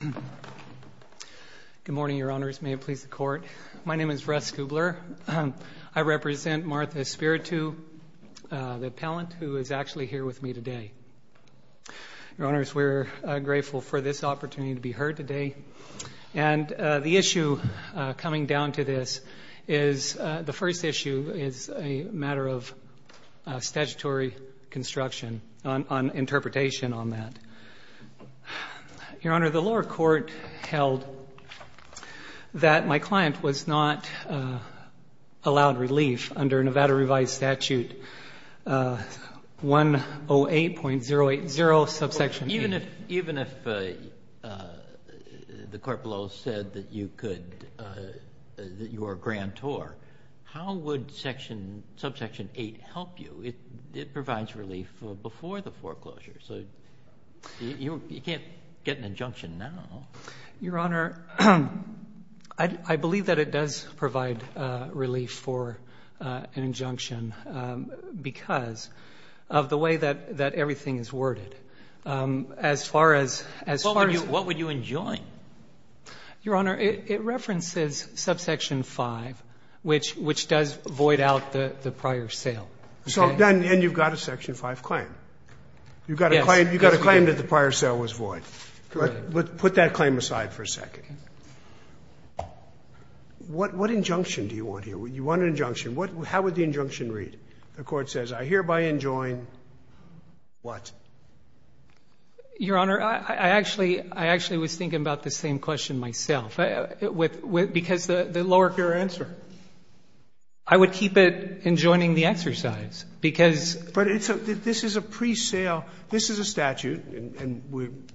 Good morning, Your Honors. May it please the Court. My name is Russ Kubler. I represent Martha Espiritu, the appellant, who is actually here with me today. Your Honors, we're grateful for this opportunity to be heard today. And the issue coming down to this is, the first issue is a matter of statutory construction, an interpretation on that. Your Honor, the lower court held that my client was not allowed relief under Nevada Revised Statute 108.080 subsection 8. Even if the court below said that you could, that you are a grantor, how would subsection 8 help you? It provides relief before the foreclosure, so you can't get an injunction now. Your Honor, I believe that it does provide relief for an injunction because of the way that everything is worded. As far as, as far as What would you enjoin? Your Honor, it references subsection 5, which does void out the prior sale. So then you've got a section 5 claim. You've got a claim that the prior sale was void. Put that claim aside for a second. What injunction do you want here? You want an injunction. How would the injunction read? The court says, I hereby enjoin what? Your Honor, I actually was thinking about the same question myself. Because the lower court Your answer. I would keep it enjoining the exercise, because But it's a, this is a pre-sale, this is a statute, and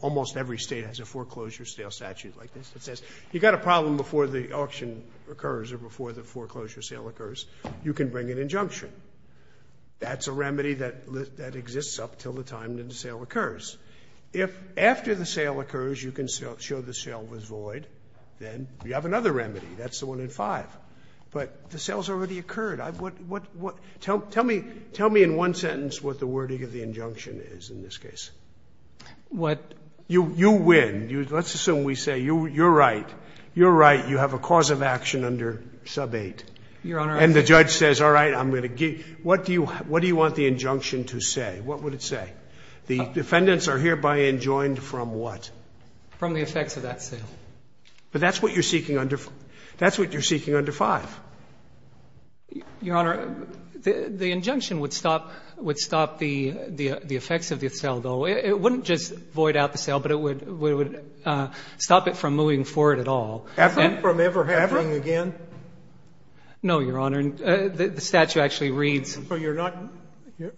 almost every State has a foreclosure sale statute like this that says, you've got a problem before the auction occurs or before the foreclosure sale occurs, you can bring an injunction. That's a remedy that exists up until the time the sale occurs. If after the sale occurs, you can show the sale was void, then you have another remedy. That's the one in 5. But the sale has already occurred. What, what, what? Tell me, tell me in one sentence what the wording of the injunction is in this case. What? You win. Let's assume we say you're right. You're right. You have a cause of action under sub 8. Your Honor, I think And the judge says, all right, I'm going to give, what do you, what do you want the injunction to say? What would it say? The defendants are hereby enjoined from what? From the effects of that sale. But that's what you're seeking under, that's what you're seeking under 5. Your Honor, the, the injunction would stop, would stop the, the effects of the sale, though. It wouldn't just void out the sale, but it would, it would stop it from moving forward at all. Happen from ever happening again? No, Your Honor. The statute actually reads So you're not,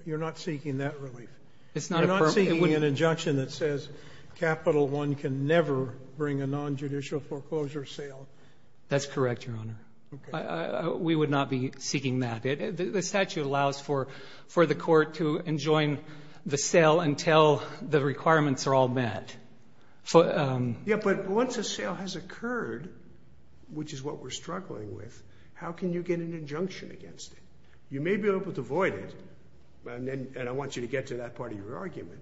you're not seeking that relief. It's not a permit. An injunction that says Capital One can never bring a non-judicial foreclosure sale. That's correct, Your Honor. We would not be seeking that. The statute allows for, for the court to enjoin the sale until the requirements are all met. Yeah, but once a sale has occurred, which is what we're struggling with, how can you get an injunction against it? You may be able to void it. And then, and I want you to get to that part of your argument,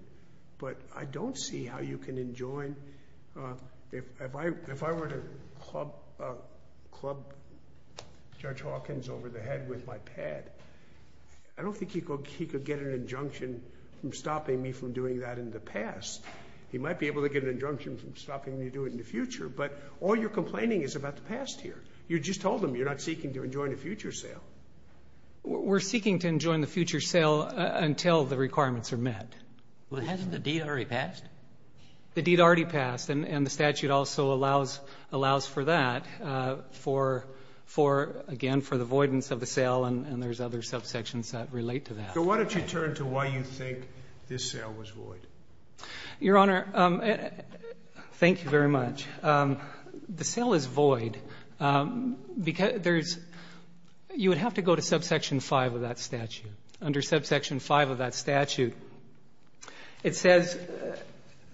but I don't see how you can enjoin, if, if I, if I were to club, club Judge Hawkins over the head with my pad, I don't think he could, he could get an injunction from stopping me from doing that in the past. He might be able to get an injunction from stopping me to do it in the future, but all you're complaining is about the past here. You just told him you're not seeking to enjoin a future sale. We're seeking to enjoin the future sale until the requirements are met. Well, hasn't the deed already passed? The deed already passed, and the statute also allows, allows for that, for, for, again, for the voidance of the sale, and there's other subsections that relate to that. So why don't you turn to why you think this sale was void? Your Honor, thank you very much. The sale is void because there's, you would have to go to subsection 5 of that statute. Under subsection 5 of that statute, it says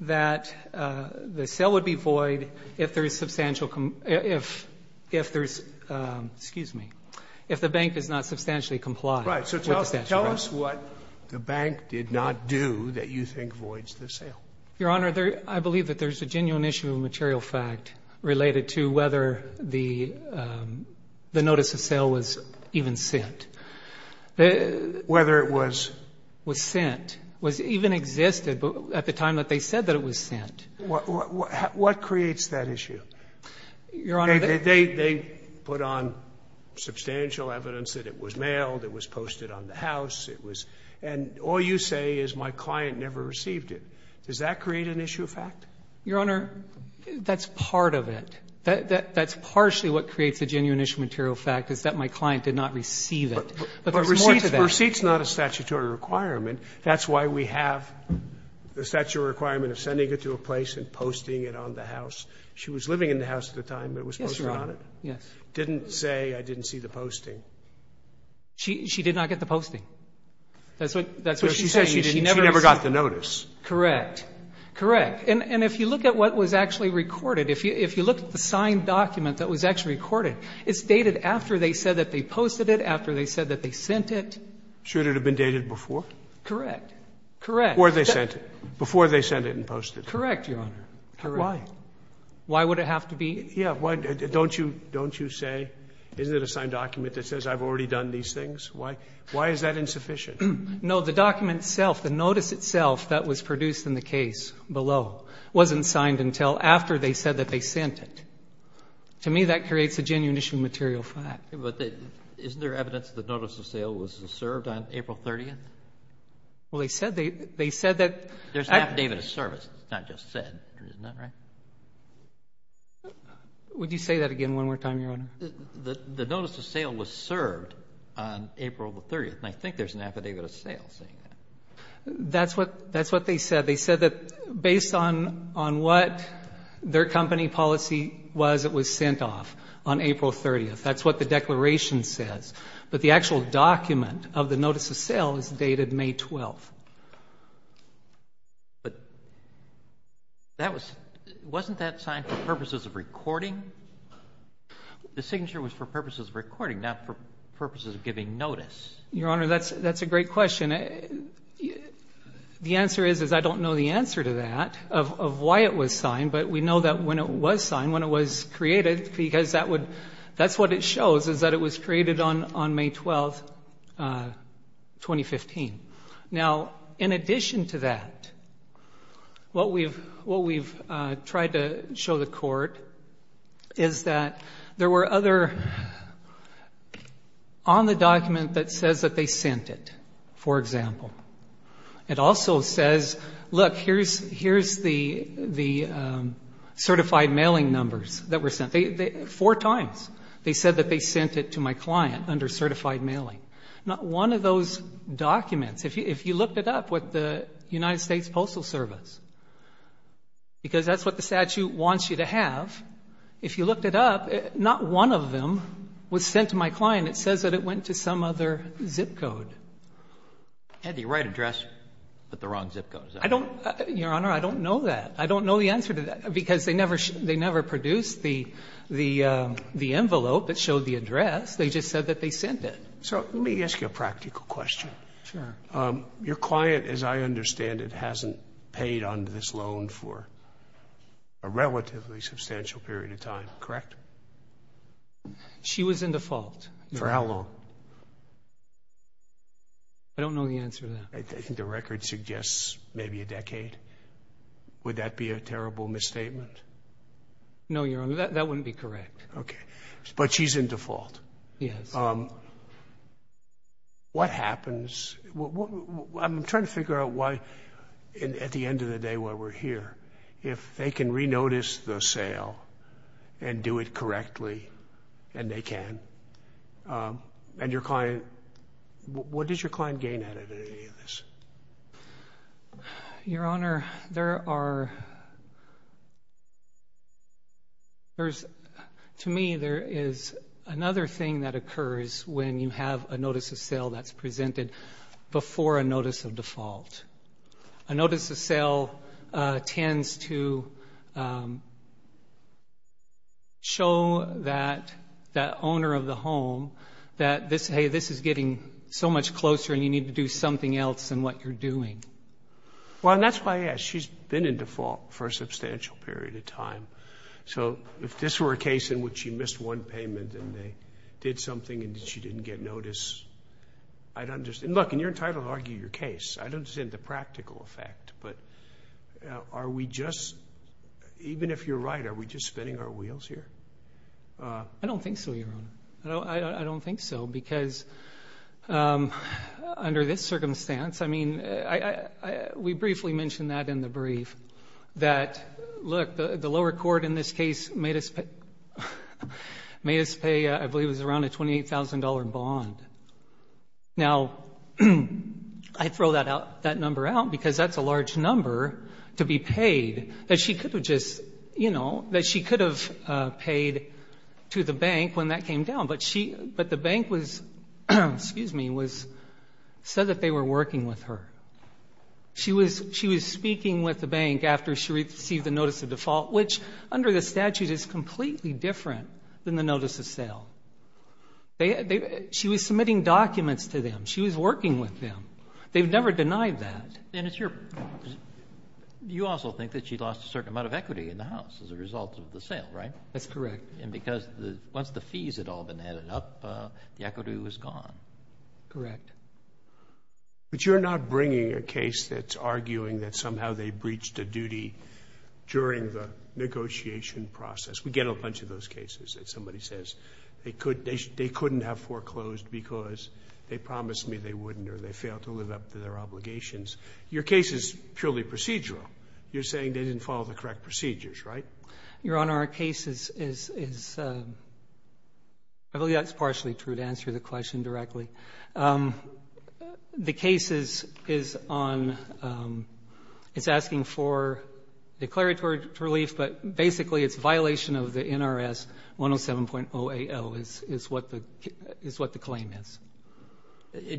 that the sale would be void if there is substantial, if, if there's, excuse me, if the bank does not substantially comply with the statute. Tell us what the bank did not do that you think voids the sale. Your Honor, there, I believe that there's a genuine issue of material fact related to whether the, the notice of sale was even sent. Whether it was? Was sent. Was even existed at the time that they said that it was sent. What, what, what creates that issue? Your Honor, they, they, they put on substantial evidence that it was mailed, it was in the house, it was, and all you say is my client never received it. Does that create an issue of fact? Your Honor, that's part of it. That, that, that's partially what creates a genuine issue of material fact is that my client did not receive it. But there's more to that. But receipt's not a statutory requirement. That's why we have the statutory requirement of sending it to a place and posting it on the house. She was living in the house at the time it was posted on it. Yes, Your Honor. Yes. Didn't say I didn't see the posting. She, she did not get the posting. That's what, that's what she's saying. She never got the notice. Correct. Correct. And, and if you look at what was actually recorded, if you, if you look at the signed document that was actually recorded, it's dated after they said that they posted it, after they said that they sent it. Should it have been dated before? Correct. Correct. Before they sent it. Before they sent it and posted it. Correct, Your Honor. Correct. Why? Why would it have to be? Yeah. Why? Don't you, don't you say, isn't it a signed document that says I've already done these things? Why, why is that insufficient? No, the document itself, the notice itself that was produced in the case below wasn't signed until after they said that they sent it. To me, that creates a genuine issue material for that. But isn't there evidence that the notice of sale was served on April 30th? Well, they said they, they said that. There's an affidavit of service, it's not just said, isn't that right? Would you say that again one more time, Your Honor? The, the notice of sale was served on April the 30th and I think there's an affidavit of sale saying that. That's what, that's what they said. They said that based on, on what their company policy was, it was sent off on April 30th. That's what the declaration says. But the actual document of the notice of sale is dated May 12th. But that was, wasn't that signed for purposes of recording? The signature was for purposes of recording, not for purposes of giving notice. Your Honor, that's, that's a great question. The answer is, is I don't know the answer to that of, of why it was signed. But we know that when it was signed, when it was created, because that would, that's what it shows is that it was created on, on May 12th, 2015. Now, in addition to that, what we've, what we've tried to show the court is that there were other, on the document that says that they sent it, for example. It also says, look, here's, here's the, the certified mailing numbers that were sent. They, they, four times they said that they sent it to my client under certified mailing. Not one of those documents. If you, if you looked it up with the United States Postal Service, because that's what the statute wants you to have. If you looked it up, not one of them was sent to my client. It says that it went to some other zip code. Had the right address, but the wrong zip code. I don't, Your Honor, I don't know that. I don't know the answer to that, because they never, they never produced the, the, the envelope that showed the address. They just said that they sent it. So, let me ask you a practical question. Sure. Your client, as I understand it, hasn't paid under this loan for a relatively substantial period of time, correct? She was in default. For how long? I don't know the answer to that. I think the record suggests maybe a decade. Would that be a terrible misstatement? No, Your Honor, that, that wouldn't be correct. Okay. But she's in default. Yes. What happens, I'm trying to figure out why, at the end of the day, why we're here. If they can re-notice the sale and do it correctly, and they can, and your client, what does your client gain out of any of this? Your Honor, there are, there's, to me, there is another thing that occurs when you have a notice of sale that's presented before a notice of default. A notice of sale tends to show that, that owner of the home that this, hey, this is getting so much closer and you need to do something else in what you're doing. Well, and that's why, yes, she's been in default for a substantial period of time. So, if this were a case in which she missed one payment and they did something and she didn't get notice, I'd understand. Look, and you're entitled to argue your case. I don't understand the practical effect, but are we just, even if you're right, are we just spinning our wheels here? I don't think so, Your Honor. I don't think so, because under this circumstance, I mean, we briefly mentioned that in the brief. That, look, the lower court in this case made us pay, I believe it was around a $28,000 bond. Now, I throw that out, that number out, because that's a large number to be paid that she could have just, you know, that she could have paid to the bank when that came down. But she, but the bank was, excuse me, was, said that they were working with her. She was, she was speaking with the bank after she received the notice of default, which under the statute is completely different than the notice of sale. They, she was submitting documents to them. She was working with them. They've never denied that. And it's your, you also think that she lost a certain amount of equity in the house as a result of the sale, right? That's correct. And because once the fees had all been added up, the equity was gone. Correct. But you're not bringing a case that's arguing that somehow they breached a duty during the negotiation process. We get a bunch of those cases that somebody says they couldn't have foreclosed because they promised me they wouldn't or they failed to live up to their obligations. Your case is purely procedural. You're saying they didn't follow the correct procedures, right? Your Honor, our case is, I believe that's partially true to answer the question directly. The case is on, it's asking for declaratory relief, but basically it's a violation of the NRS 107.0AL is what the claim is.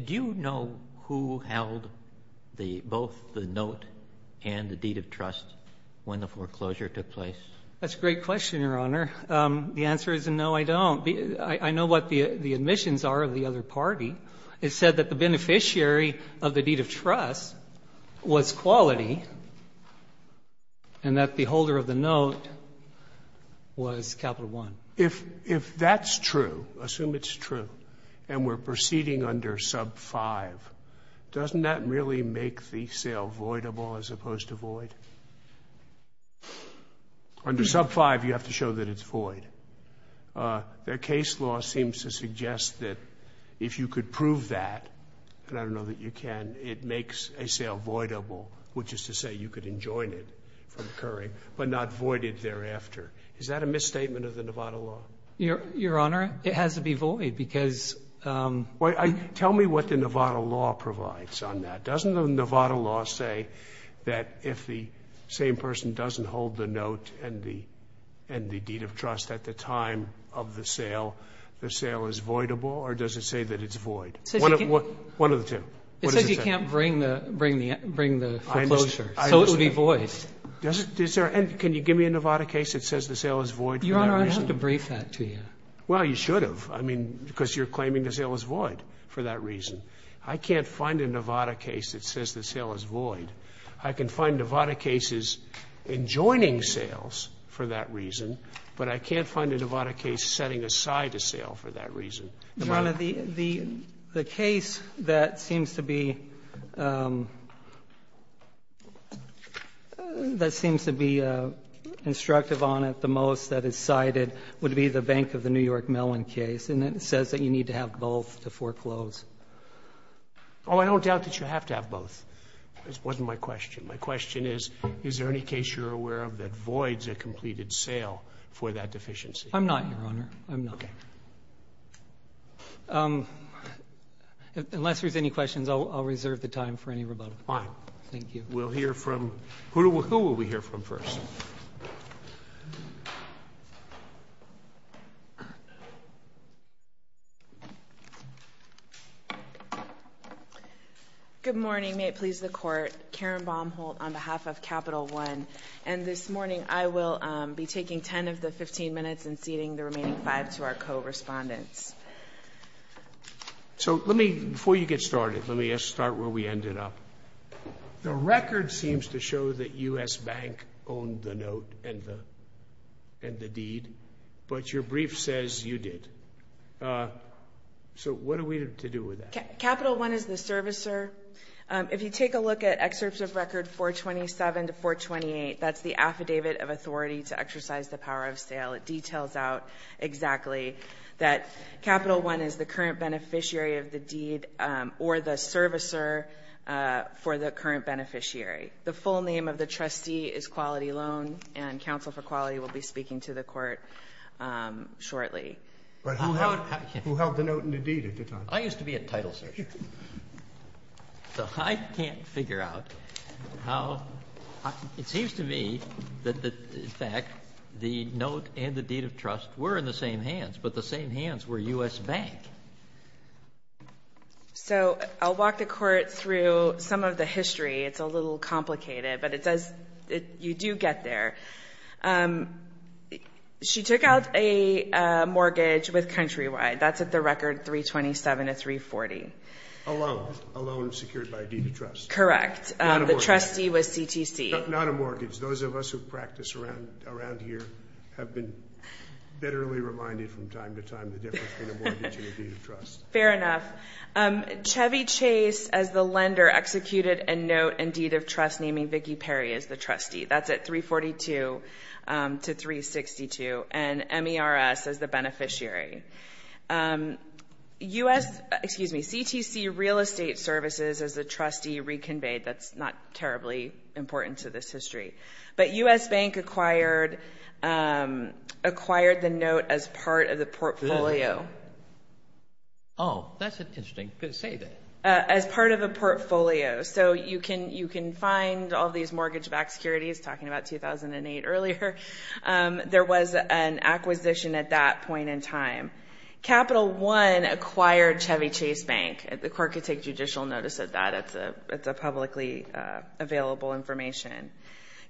Do you know who held the, both the note and the deed of trust when the foreclosure took place? That's a great question, Your Honor. The answer is no, I don't. I know what the admissions are of the other party. It said that the beneficiary of the deed of trust was quality and that the holder of the note was Capital One. If that's true, assume it's true, and we're proceeding under sub five, doesn't that really make the sale voidable as opposed to void? Under sub five, you have to show that it's void. Their case law seems to suggest that if you could prove that, and I don't know that you can, it makes a sale voidable, which is to say you could enjoin it from occurring, but not void it thereafter. Is that a misstatement of the Nevada law? Your Honor, it has to be void because Tell me what the Nevada law provides on that. Doesn't the Nevada law say that if the same person doesn't hold the note and the deed of trust at the time of the sale, the sale is voidable, or does it say that it's void? One of the two. It says you can't bring the foreclosure, so it would be void. Can you give me a Nevada case that says the sale is void? Your Honor, I'd have to brief that to you. Well, you should have, I mean, because you're claiming the sale is void for that reason. I can't find a Nevada case that says the sale is void. I can find Nevada cases enjoining sales for that reason, but I can't find a Nevada case setting aside a sale for that reason. Your Honor, the case that seems to be the case that seems to be instructive on it the most that is cited would be the Bank of the New York Mellon case, and it says that you need to have both to foreclose. Oh, I don't doubt that you have to have both. It wasn't my question. My question is, is there any case you're aware of that voids a completed sale for that deficiency? I'm not, Your Honor. I'm not. Okay. Unless there's any questions, I'll reserve the time for any rebuttal. Fine. Thank you. We'll hear from who will we hear from first? Good morning. May it please the Court. Karen Baumholt on behalf of Capital One. And this morning, I will be taking 10 of the 15 minutes and ceding the remaining 5 to our co-respondents. So let me, before you get started, let me just start where we ended up. The record seems to show that U.S. Bank owned the note and the deed, but your brief says you did. So what are we to do with that? Capital One is the servicer. If you take a look at excerpts of record 427 to 428, that's the affidavit of authority to exercise the power of sale. It details out exactly that Capital One is the current beneficiary of the deed or the servicer for the current beneficiary. The full name of the trustee is Quality Loan, and Counsel for Quality will be speaking to the Court shortly. But who held the note and the deed at the time? I used to be a title searcher. So I can't figure out how. It seems to me that, in fact, the note and the deed of trust were in the same hands, but the same hands were U.S. Bank. So I'll walk the Court through some of the history. It's a little complicated, but it says you do get there. She took out a mortgage with Countrywide. That's at the record 327 to 340. A loan. A loan secured by a deed of trust. Correct. The trustee was CTC. Not a mortgage. Those of us who practice around here have been bitterly reminded from time to time the difference between a mortgage and a deed of trust. Fair enough. Chevy Chase, as the lender, executed a note and deed of trust naming Vicki Perry as the trustee. That's at 342 to 362. And MERS as the beneficiary. U.S. Excuse me. CTC Real Estate Services, as the trustee, reconveyed. That's not terribly important to this history. But U.S. Bank acquired the note as part of the portfolio. Oh, that's interesting. You could say that. As part of a portfolio. So you can find all these mortgage-backed securities, talking about 2008 earlier. There was an acquisition at that point in time. Capital One acquired Chevy Chase Bank. The Court could take judicial notice of that. It's a publicly available information.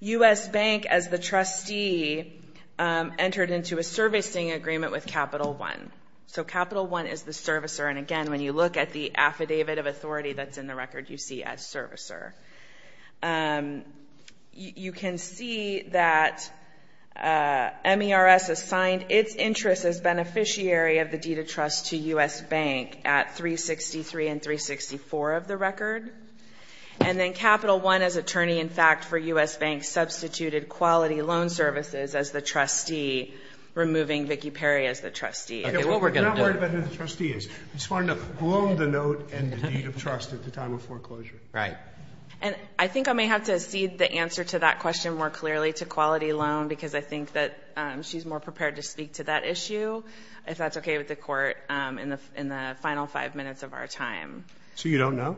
U.S. Bank, as the trustee, entered into a servicing agreement with Capital One. So Capital One is the servicer. And again, when you look at the affidavit of authority that's in the record, you see as servicer. You can see that MERS assigned its interest as beneficiary of the deed of trust to U.S. Bank at 363 and 364 of the record. And then Capital One, as attorney-in-fact for U.S. Bank, substituted Quality Loan Services as the trustee, removing Vicki Perry as the trustee. Okay. What we're going to do. We're not worried about who the trustee is. We just want to loan the note and the deed of trust at the time of foreclosure. Right. And I think I may have to cede the answer to that question more clearly, to Quality Loan, because I think that she's more prepared to speak to that issue, if that's okay with the court, in the final five minutes of our time. So you don't know?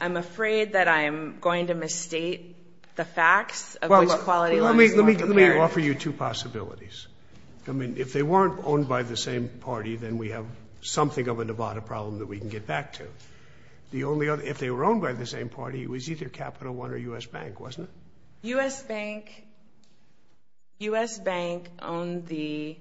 I'm afraid that I'm going to misstate the facts of which Quality Loan is more prepared. Let me offer you two possibilities. I mean, if they weren't owned by the same party, then we have something of a Nevada problem that we can get back to. If they were owned by the same party, it was either Capital One or U.S. Bank, wasn't it? U.S. Bank owned the,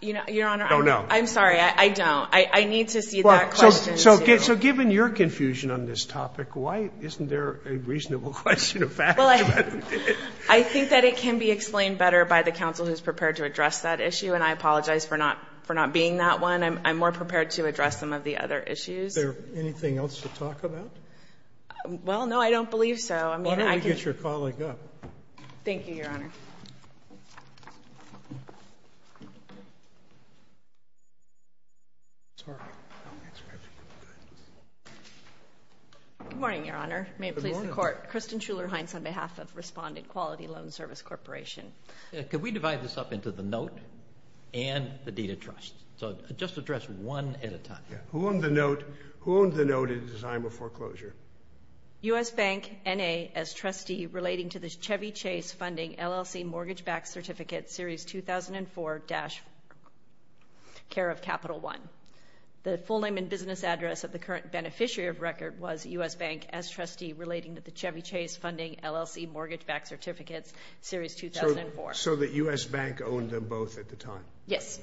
Your Honor, I'm sorry, I don't. I need to cede that question to you. So given your confusion on this topic, why isn't there a reasonable question of facts about it? I think that it can be explained better by the counsel who's prepared to address that issue, and I apologize for not being that one. I'm more prepared to address some of the other issues. Is there anything else to talk about? Well, no. I don't believe so. Why don't we get your colleague up? Thank you, Your Honor. Good morning, Your Honor. May it please the Court. Kristen Schuller-Hines on behalf of Respondent Quality Loan Service Corporation. Could we divide this up into the note and the deed of trust? So just address one at a time. Who owned the note? Who owned the note in the design of foreclosure? U.S. Bank, N.A., as trustee relating to the Chevy Chase Funding LLC Mortgage Back Certificate Series 2004-CARE of Capital One. The full name and business address of the current beneficiary of record was U.S. Bank as trustee relating to the Chevy Chase Funding LLC Mortgage Back Certificate Series 2004. So the U.S. Bank owned them both at the time? Yes.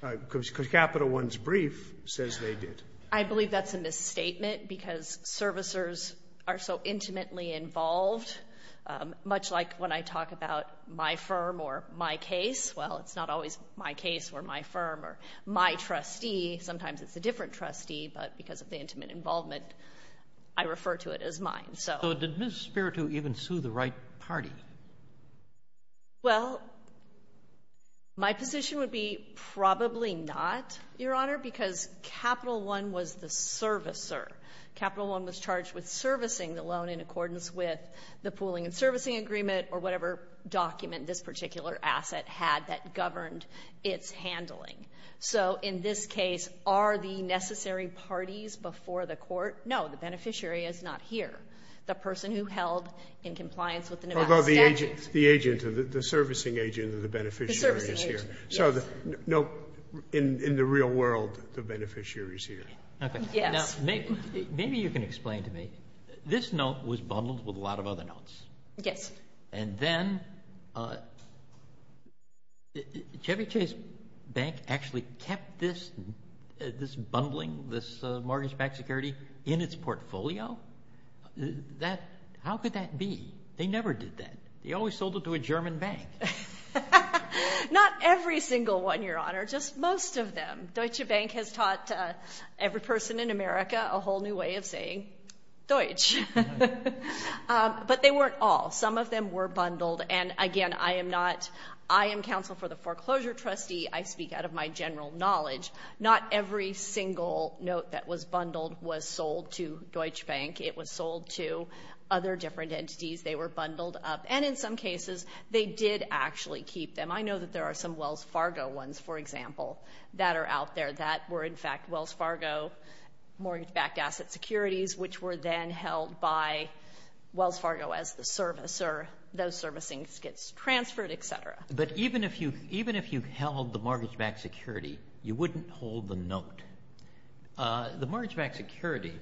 Because Capital One's brief says they did. I believe that's a misstatement because servicers are so intimately involved. Much like when I talk about my firm or my case, well, it's not always my case or my firm or my trustee. Sometimes it's a different trustee, but because of the intimate involvement, I refer to it as mine. So did Ms. Spiritou even sue the right party? Well, my position would be probably not, Your Honor, because Capital One was the servicer. Capital One was charged with servicing the loan in accordance with the pooling and servicing agreement or whatever document this particular asset had that governed its handling. So in this case, are the necessary parties before the court? No, the beneficiary is not here. The person who held in compliance with the NMACC. The agent, the servicing agent of the beneficiary is here. So no, in the real world, the beneficiary is here. Okay, now maybe you can explain to me. This note was bundled with a lot of other notes. Yes. And then Chevy Chase Bank actually kept this bundling, this mortgage-backed security in its portfolio? How could that be? They never did that. They always sold it to a German bank. Not every single one, Your Honor, just most of them. Deutsche Bank has taught every person in America a whole new way of saying Deutsch. But they weren't all. Some of them were bundled. And again, I am counsel for the foreclosure trustee. I speak out of my general knowledge. Not every single note that was bundled was sold to Deutsche Bank. It was sold to other different entities. They were bundled up. And in some cases, they did actually keep them. I know that there are some Wells Fargo ones, for example, that are out there that were in fact Wells Fargo mortgage-backed asset securities, which were then held by Wells Fargo as the servicer. Those servicings gets transferred, et cetera. But even if you held the mortgage-backed security, you wouldn't hold the note. The mortgage-backed security,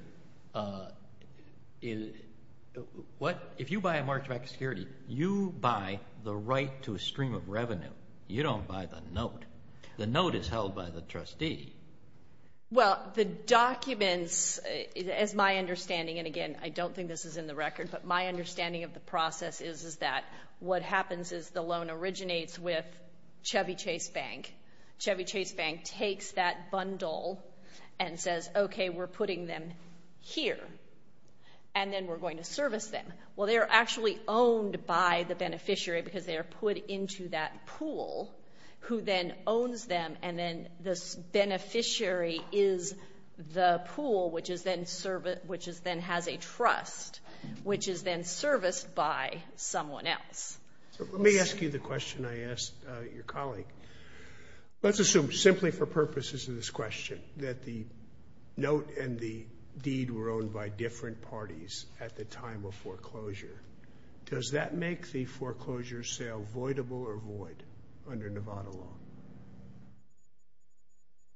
if you buy a mortgage-backed security, you buy the right to a stream of revenue. You don't buy the note. The note is held by the trustee. Well, the documents, as my understanding, and again, I don't think this is in the record, but my understanding of the process is that what happens is the loan originates with Chevy Chase Bank. Chevy Chase Bank takes that bundle and says, okay, we're putting them here. And then we're going to service them. Well, they're actually owned by the beneficiary because they're put into that pool who then owns them. And then this beneficiary is the pool, which is then has a trust, which is then serviced by someone else. Let me ask you the question I asked your colleague. Let's assume, simply for purposes of this question, that the note and the deed were owned by different parties at the time of foreclosure. Does that make the foreclosure sale voidable or void under Nevada law?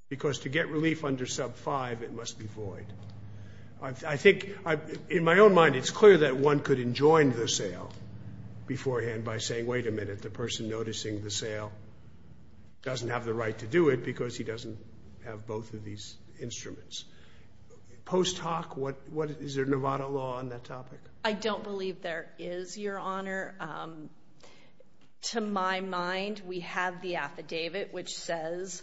Because to get relief under sub 5, it must be void. I think in my own mind, it's clear that one could enjoin the sale beforehand by saying, wait a minute, the person noticing the sale doesn't have the right to do it because he doesn't have both of these instruments. Post hoc, is there Nevada law on that topic? I don't believe there is, Your Honor. To my mind, we have the affidavit, which says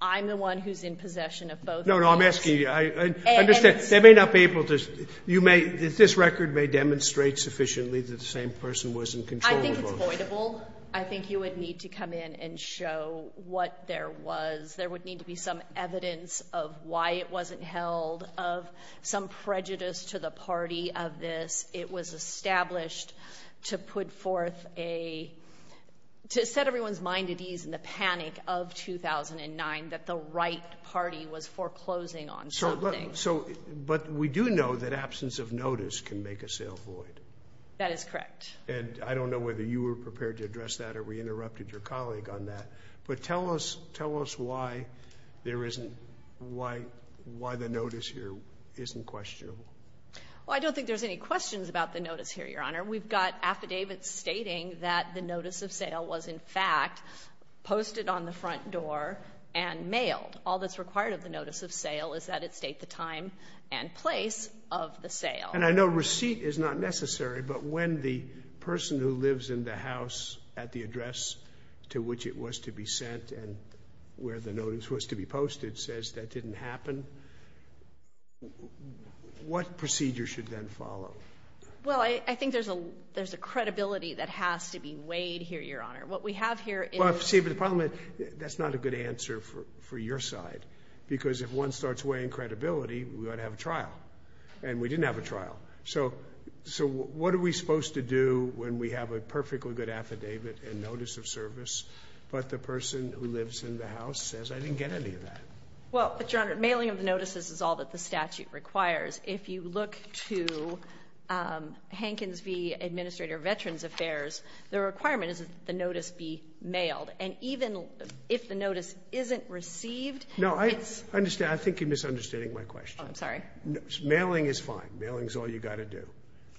I'm the one who's in possession of both. No, no, I'm asking you, I understand. They may not be able to, you may, this record may demonstrate sufficiently that the same person was in control of both. I think it's voidable. I think you would need to come in and show what there was. There would need to be some evidence of why it wasn't held, of some prejudice to the party of this. It was established to put forth a, to set everyone's mind at ease in the panic of 2009 that the right party was foreclosing on something. So, but we do know that absence of notice can make a sale void. That is correct. And I don't know whether you were prepared to address that or we interrupted your colleague on that, but tell us, tell us why there isn't, why, why the notice here isn't questionable. Well, I don't think there's any questions about the notice here, Your Honor. We've got affidavits stating that the notice of sale was in fact posted on the front door and mailed. All that's required of the notice of sale is that it state the time and place of the sale. And I know receipt is not necessary, but when the person who lives in the house at the address to which it was to be sent and where the notice was to be posted says that didn't happen, what procedure should then follow? Well, I think there's a, there's a credibility that has to be weighed here, Your Honor. What we have here is. See, but the problem, that's not a good answer for, for your side, because if one starts weighing credibility, we ought to have a trial and we didn't have a trial. So, so what are we supposed to do when we have a perfectly good affidavit and notice of service, but the person who lives in the house says, I didn't get any of that. Well, but Your Honor, mailing of the notices is all that the statute requires. If you look to Hankins v. Administrator of Veterans Affairs, the requirement is that the notice be mailed. And even if the notice isn't received, it's. No, I understand. I think you're misunderstanding my question. Oh, I'm sorry. Mailing is fine. Mailing is all you got to do.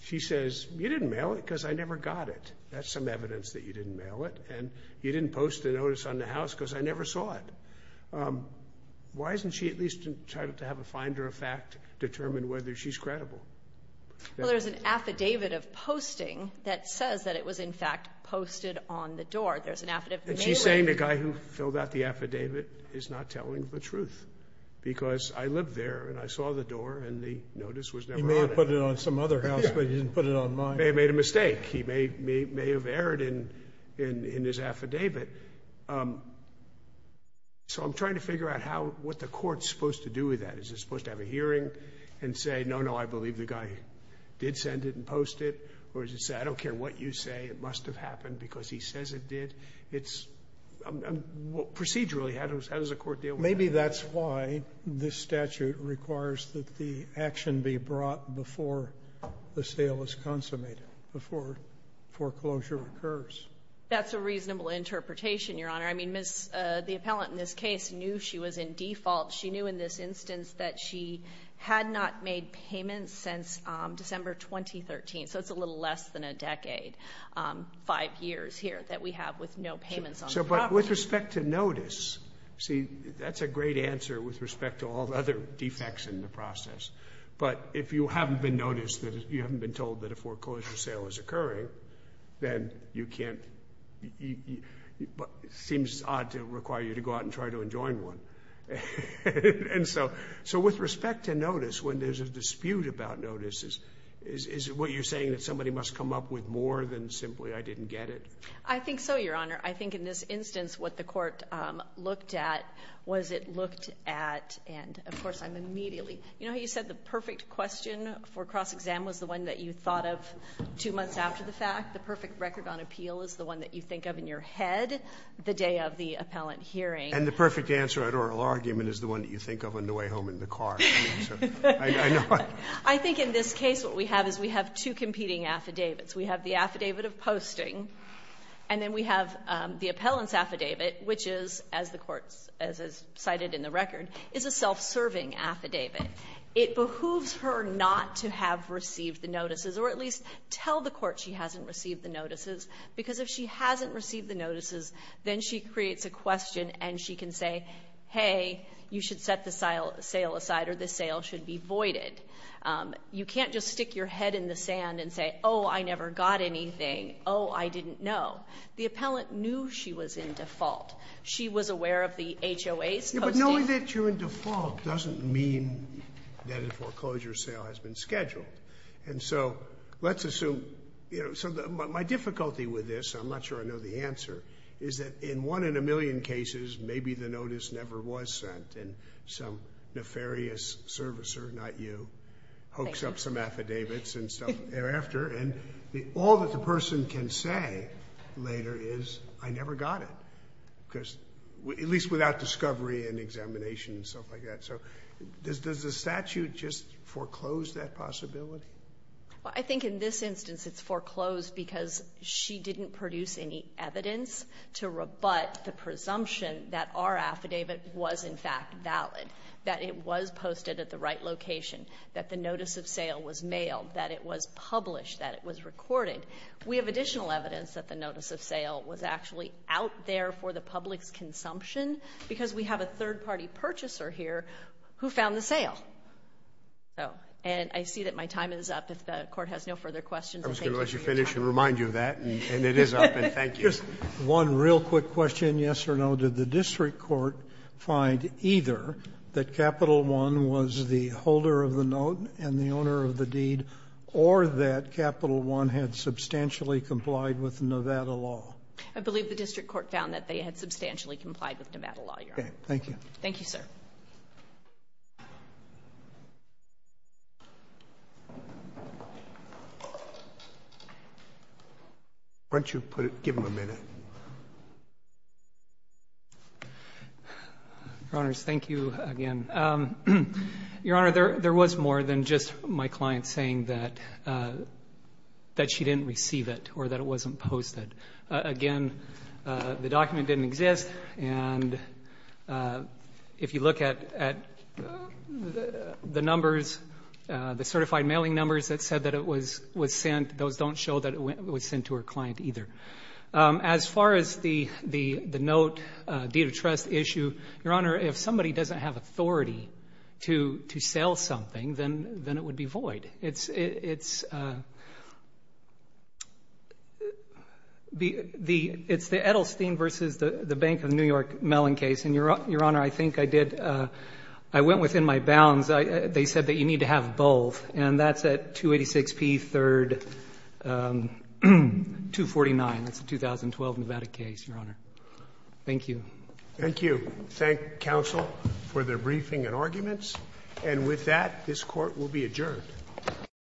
She says, you didn't mail it because I never got it. That's some evidence that you didn't mail it. And you didn't post the notice on the house because I never saw it. Why isn't she at least entitled to have a finder of fact determine whether she's credible? Well, there's an affidavit of posting that says that it was in fact posted on the door. There's an affidavit. She's saying the guy who filled out the affidavit is not telling the truth because I lived there and I saw the door and the notice was never on it. He may have put it on some other house, but he didn't put it on mine. He may have made a mistake. He may have erred in his affidavit. So I'm trying to figure out how, what the court's supposed to do with that. Is it supposed to have a hearing and say, no, no, I believe the guy did send it and post it? Or does it say, I don't care what you say, it must have happened because he says it did? It's procedurally, how does the court deal with that? Maybe that's why this statute requires that the action be brought before the sale is consummated, before foreclosure occurs. That's a reasonable interpretation, Your Honor. I mean, the appellant in this case knew she was in default. She knew in this instance that she had not made payments since December 2013. So it's a little less than a decade, five years here that we have with no payments on the property. But with respect to notice, see, that's a great answer with respect to all the other defects in the process. But if you haven't been noticed, you haven't been told that a foreclosure sale is occurring, then you can't, it seems odd to require you to go out and try to enjoin one. And so with respect to notice, when there's a dispute about notices, is what you're saying that somebody must come up with more than simply I didn't get it? I think so, Your Honor. I think in this instance, what the court looked at was it looked at, and of course, I'm immediately, you know how you said the perfect question for cross-exam was the one that you thought of two months after the fact? The perfect record on appeal is the one that you think of in your head the day of the appellant hearing. And the perfect answer at oral argument is the one that you think of on the way home in the car. I think in this case, what we have is we have two competing affidavits. We have the affidavit of posting, and then we have the appellant's affidavit, which is, as the Court has cited in the record, is a self-serving affidavit. It behooves her not to have received the notices, or at least tell the Court she hasn't received the notices, because if she hasn't received the notices, then she creates a question, and she can say, hey, you should set the sale aside or the sale should be voided. You can't just stick your head in the sand and say, oh, I never got anything. Oh, I didn't know. The appellant knew she was in default. She was aware of the HOA's posting. Yeah, but knowing that you're in default doesn't mean that a foreclosure sale has been scheduled. And so let's assume, you know, so my difficulty with this, I'm not sure I know the cases, maybe the notice never was sent, and some nefarious servicer, not you, hoaxed up some affidavits and stuff thereafter, and all that the person can say later is, I never got it, at least without discovery and examination and stuff like that. So does the statute just foreclose that possibility? Well, I think in this instance it's foreclosed because she didn't produce any evidence to rebut the presumption that our affidavit was in fact valid, that it was posted at the right location, that the notice of sale was mailed, that it was published, that it was recorded. We have additional evidence that the notice of sale was actually out there for the public's consumption because we have a third-party purchaser here who found the sale. So, and I see that my time is up. If the Court has no further questions. I was going to let you finish and remind you of that, and it is up, and thank you. One real quick question, yes or no, did the district court find either that Capital I was the holder of the note and the owner of the deed, or that Capital I had substantially complied with Nevada law? I believe the district court found that they had substantially complied with Nevada law, Your Honor. Okay. Thank you. Thank you, sir. Why don't you put it, give him a minute. Your Honors, thank you again. Your Honor, there was more than just my client saying that she didn't receive it or that it wasn't posted. Again, the document didn't exist, and if you look at the numbers, the certified mailing numbers that said that it was sent, those don't show that it was sent to her client either. As far as the note, deed of trust issue, Your Honor, if somebody doesn't have authority to sell something, then it would be void. It's the Edelstein versus the Bank of New York Mellon case. And, Your Honor, I think I did, I went within my bounds. They said that you need to have both, and that's at 286P3249. That's a 2012 Nevada case, Your Honor. Thank you. Thank you. Thank counsel for their briefing and arguments. And with that, this Court will be adjourned. Thank you.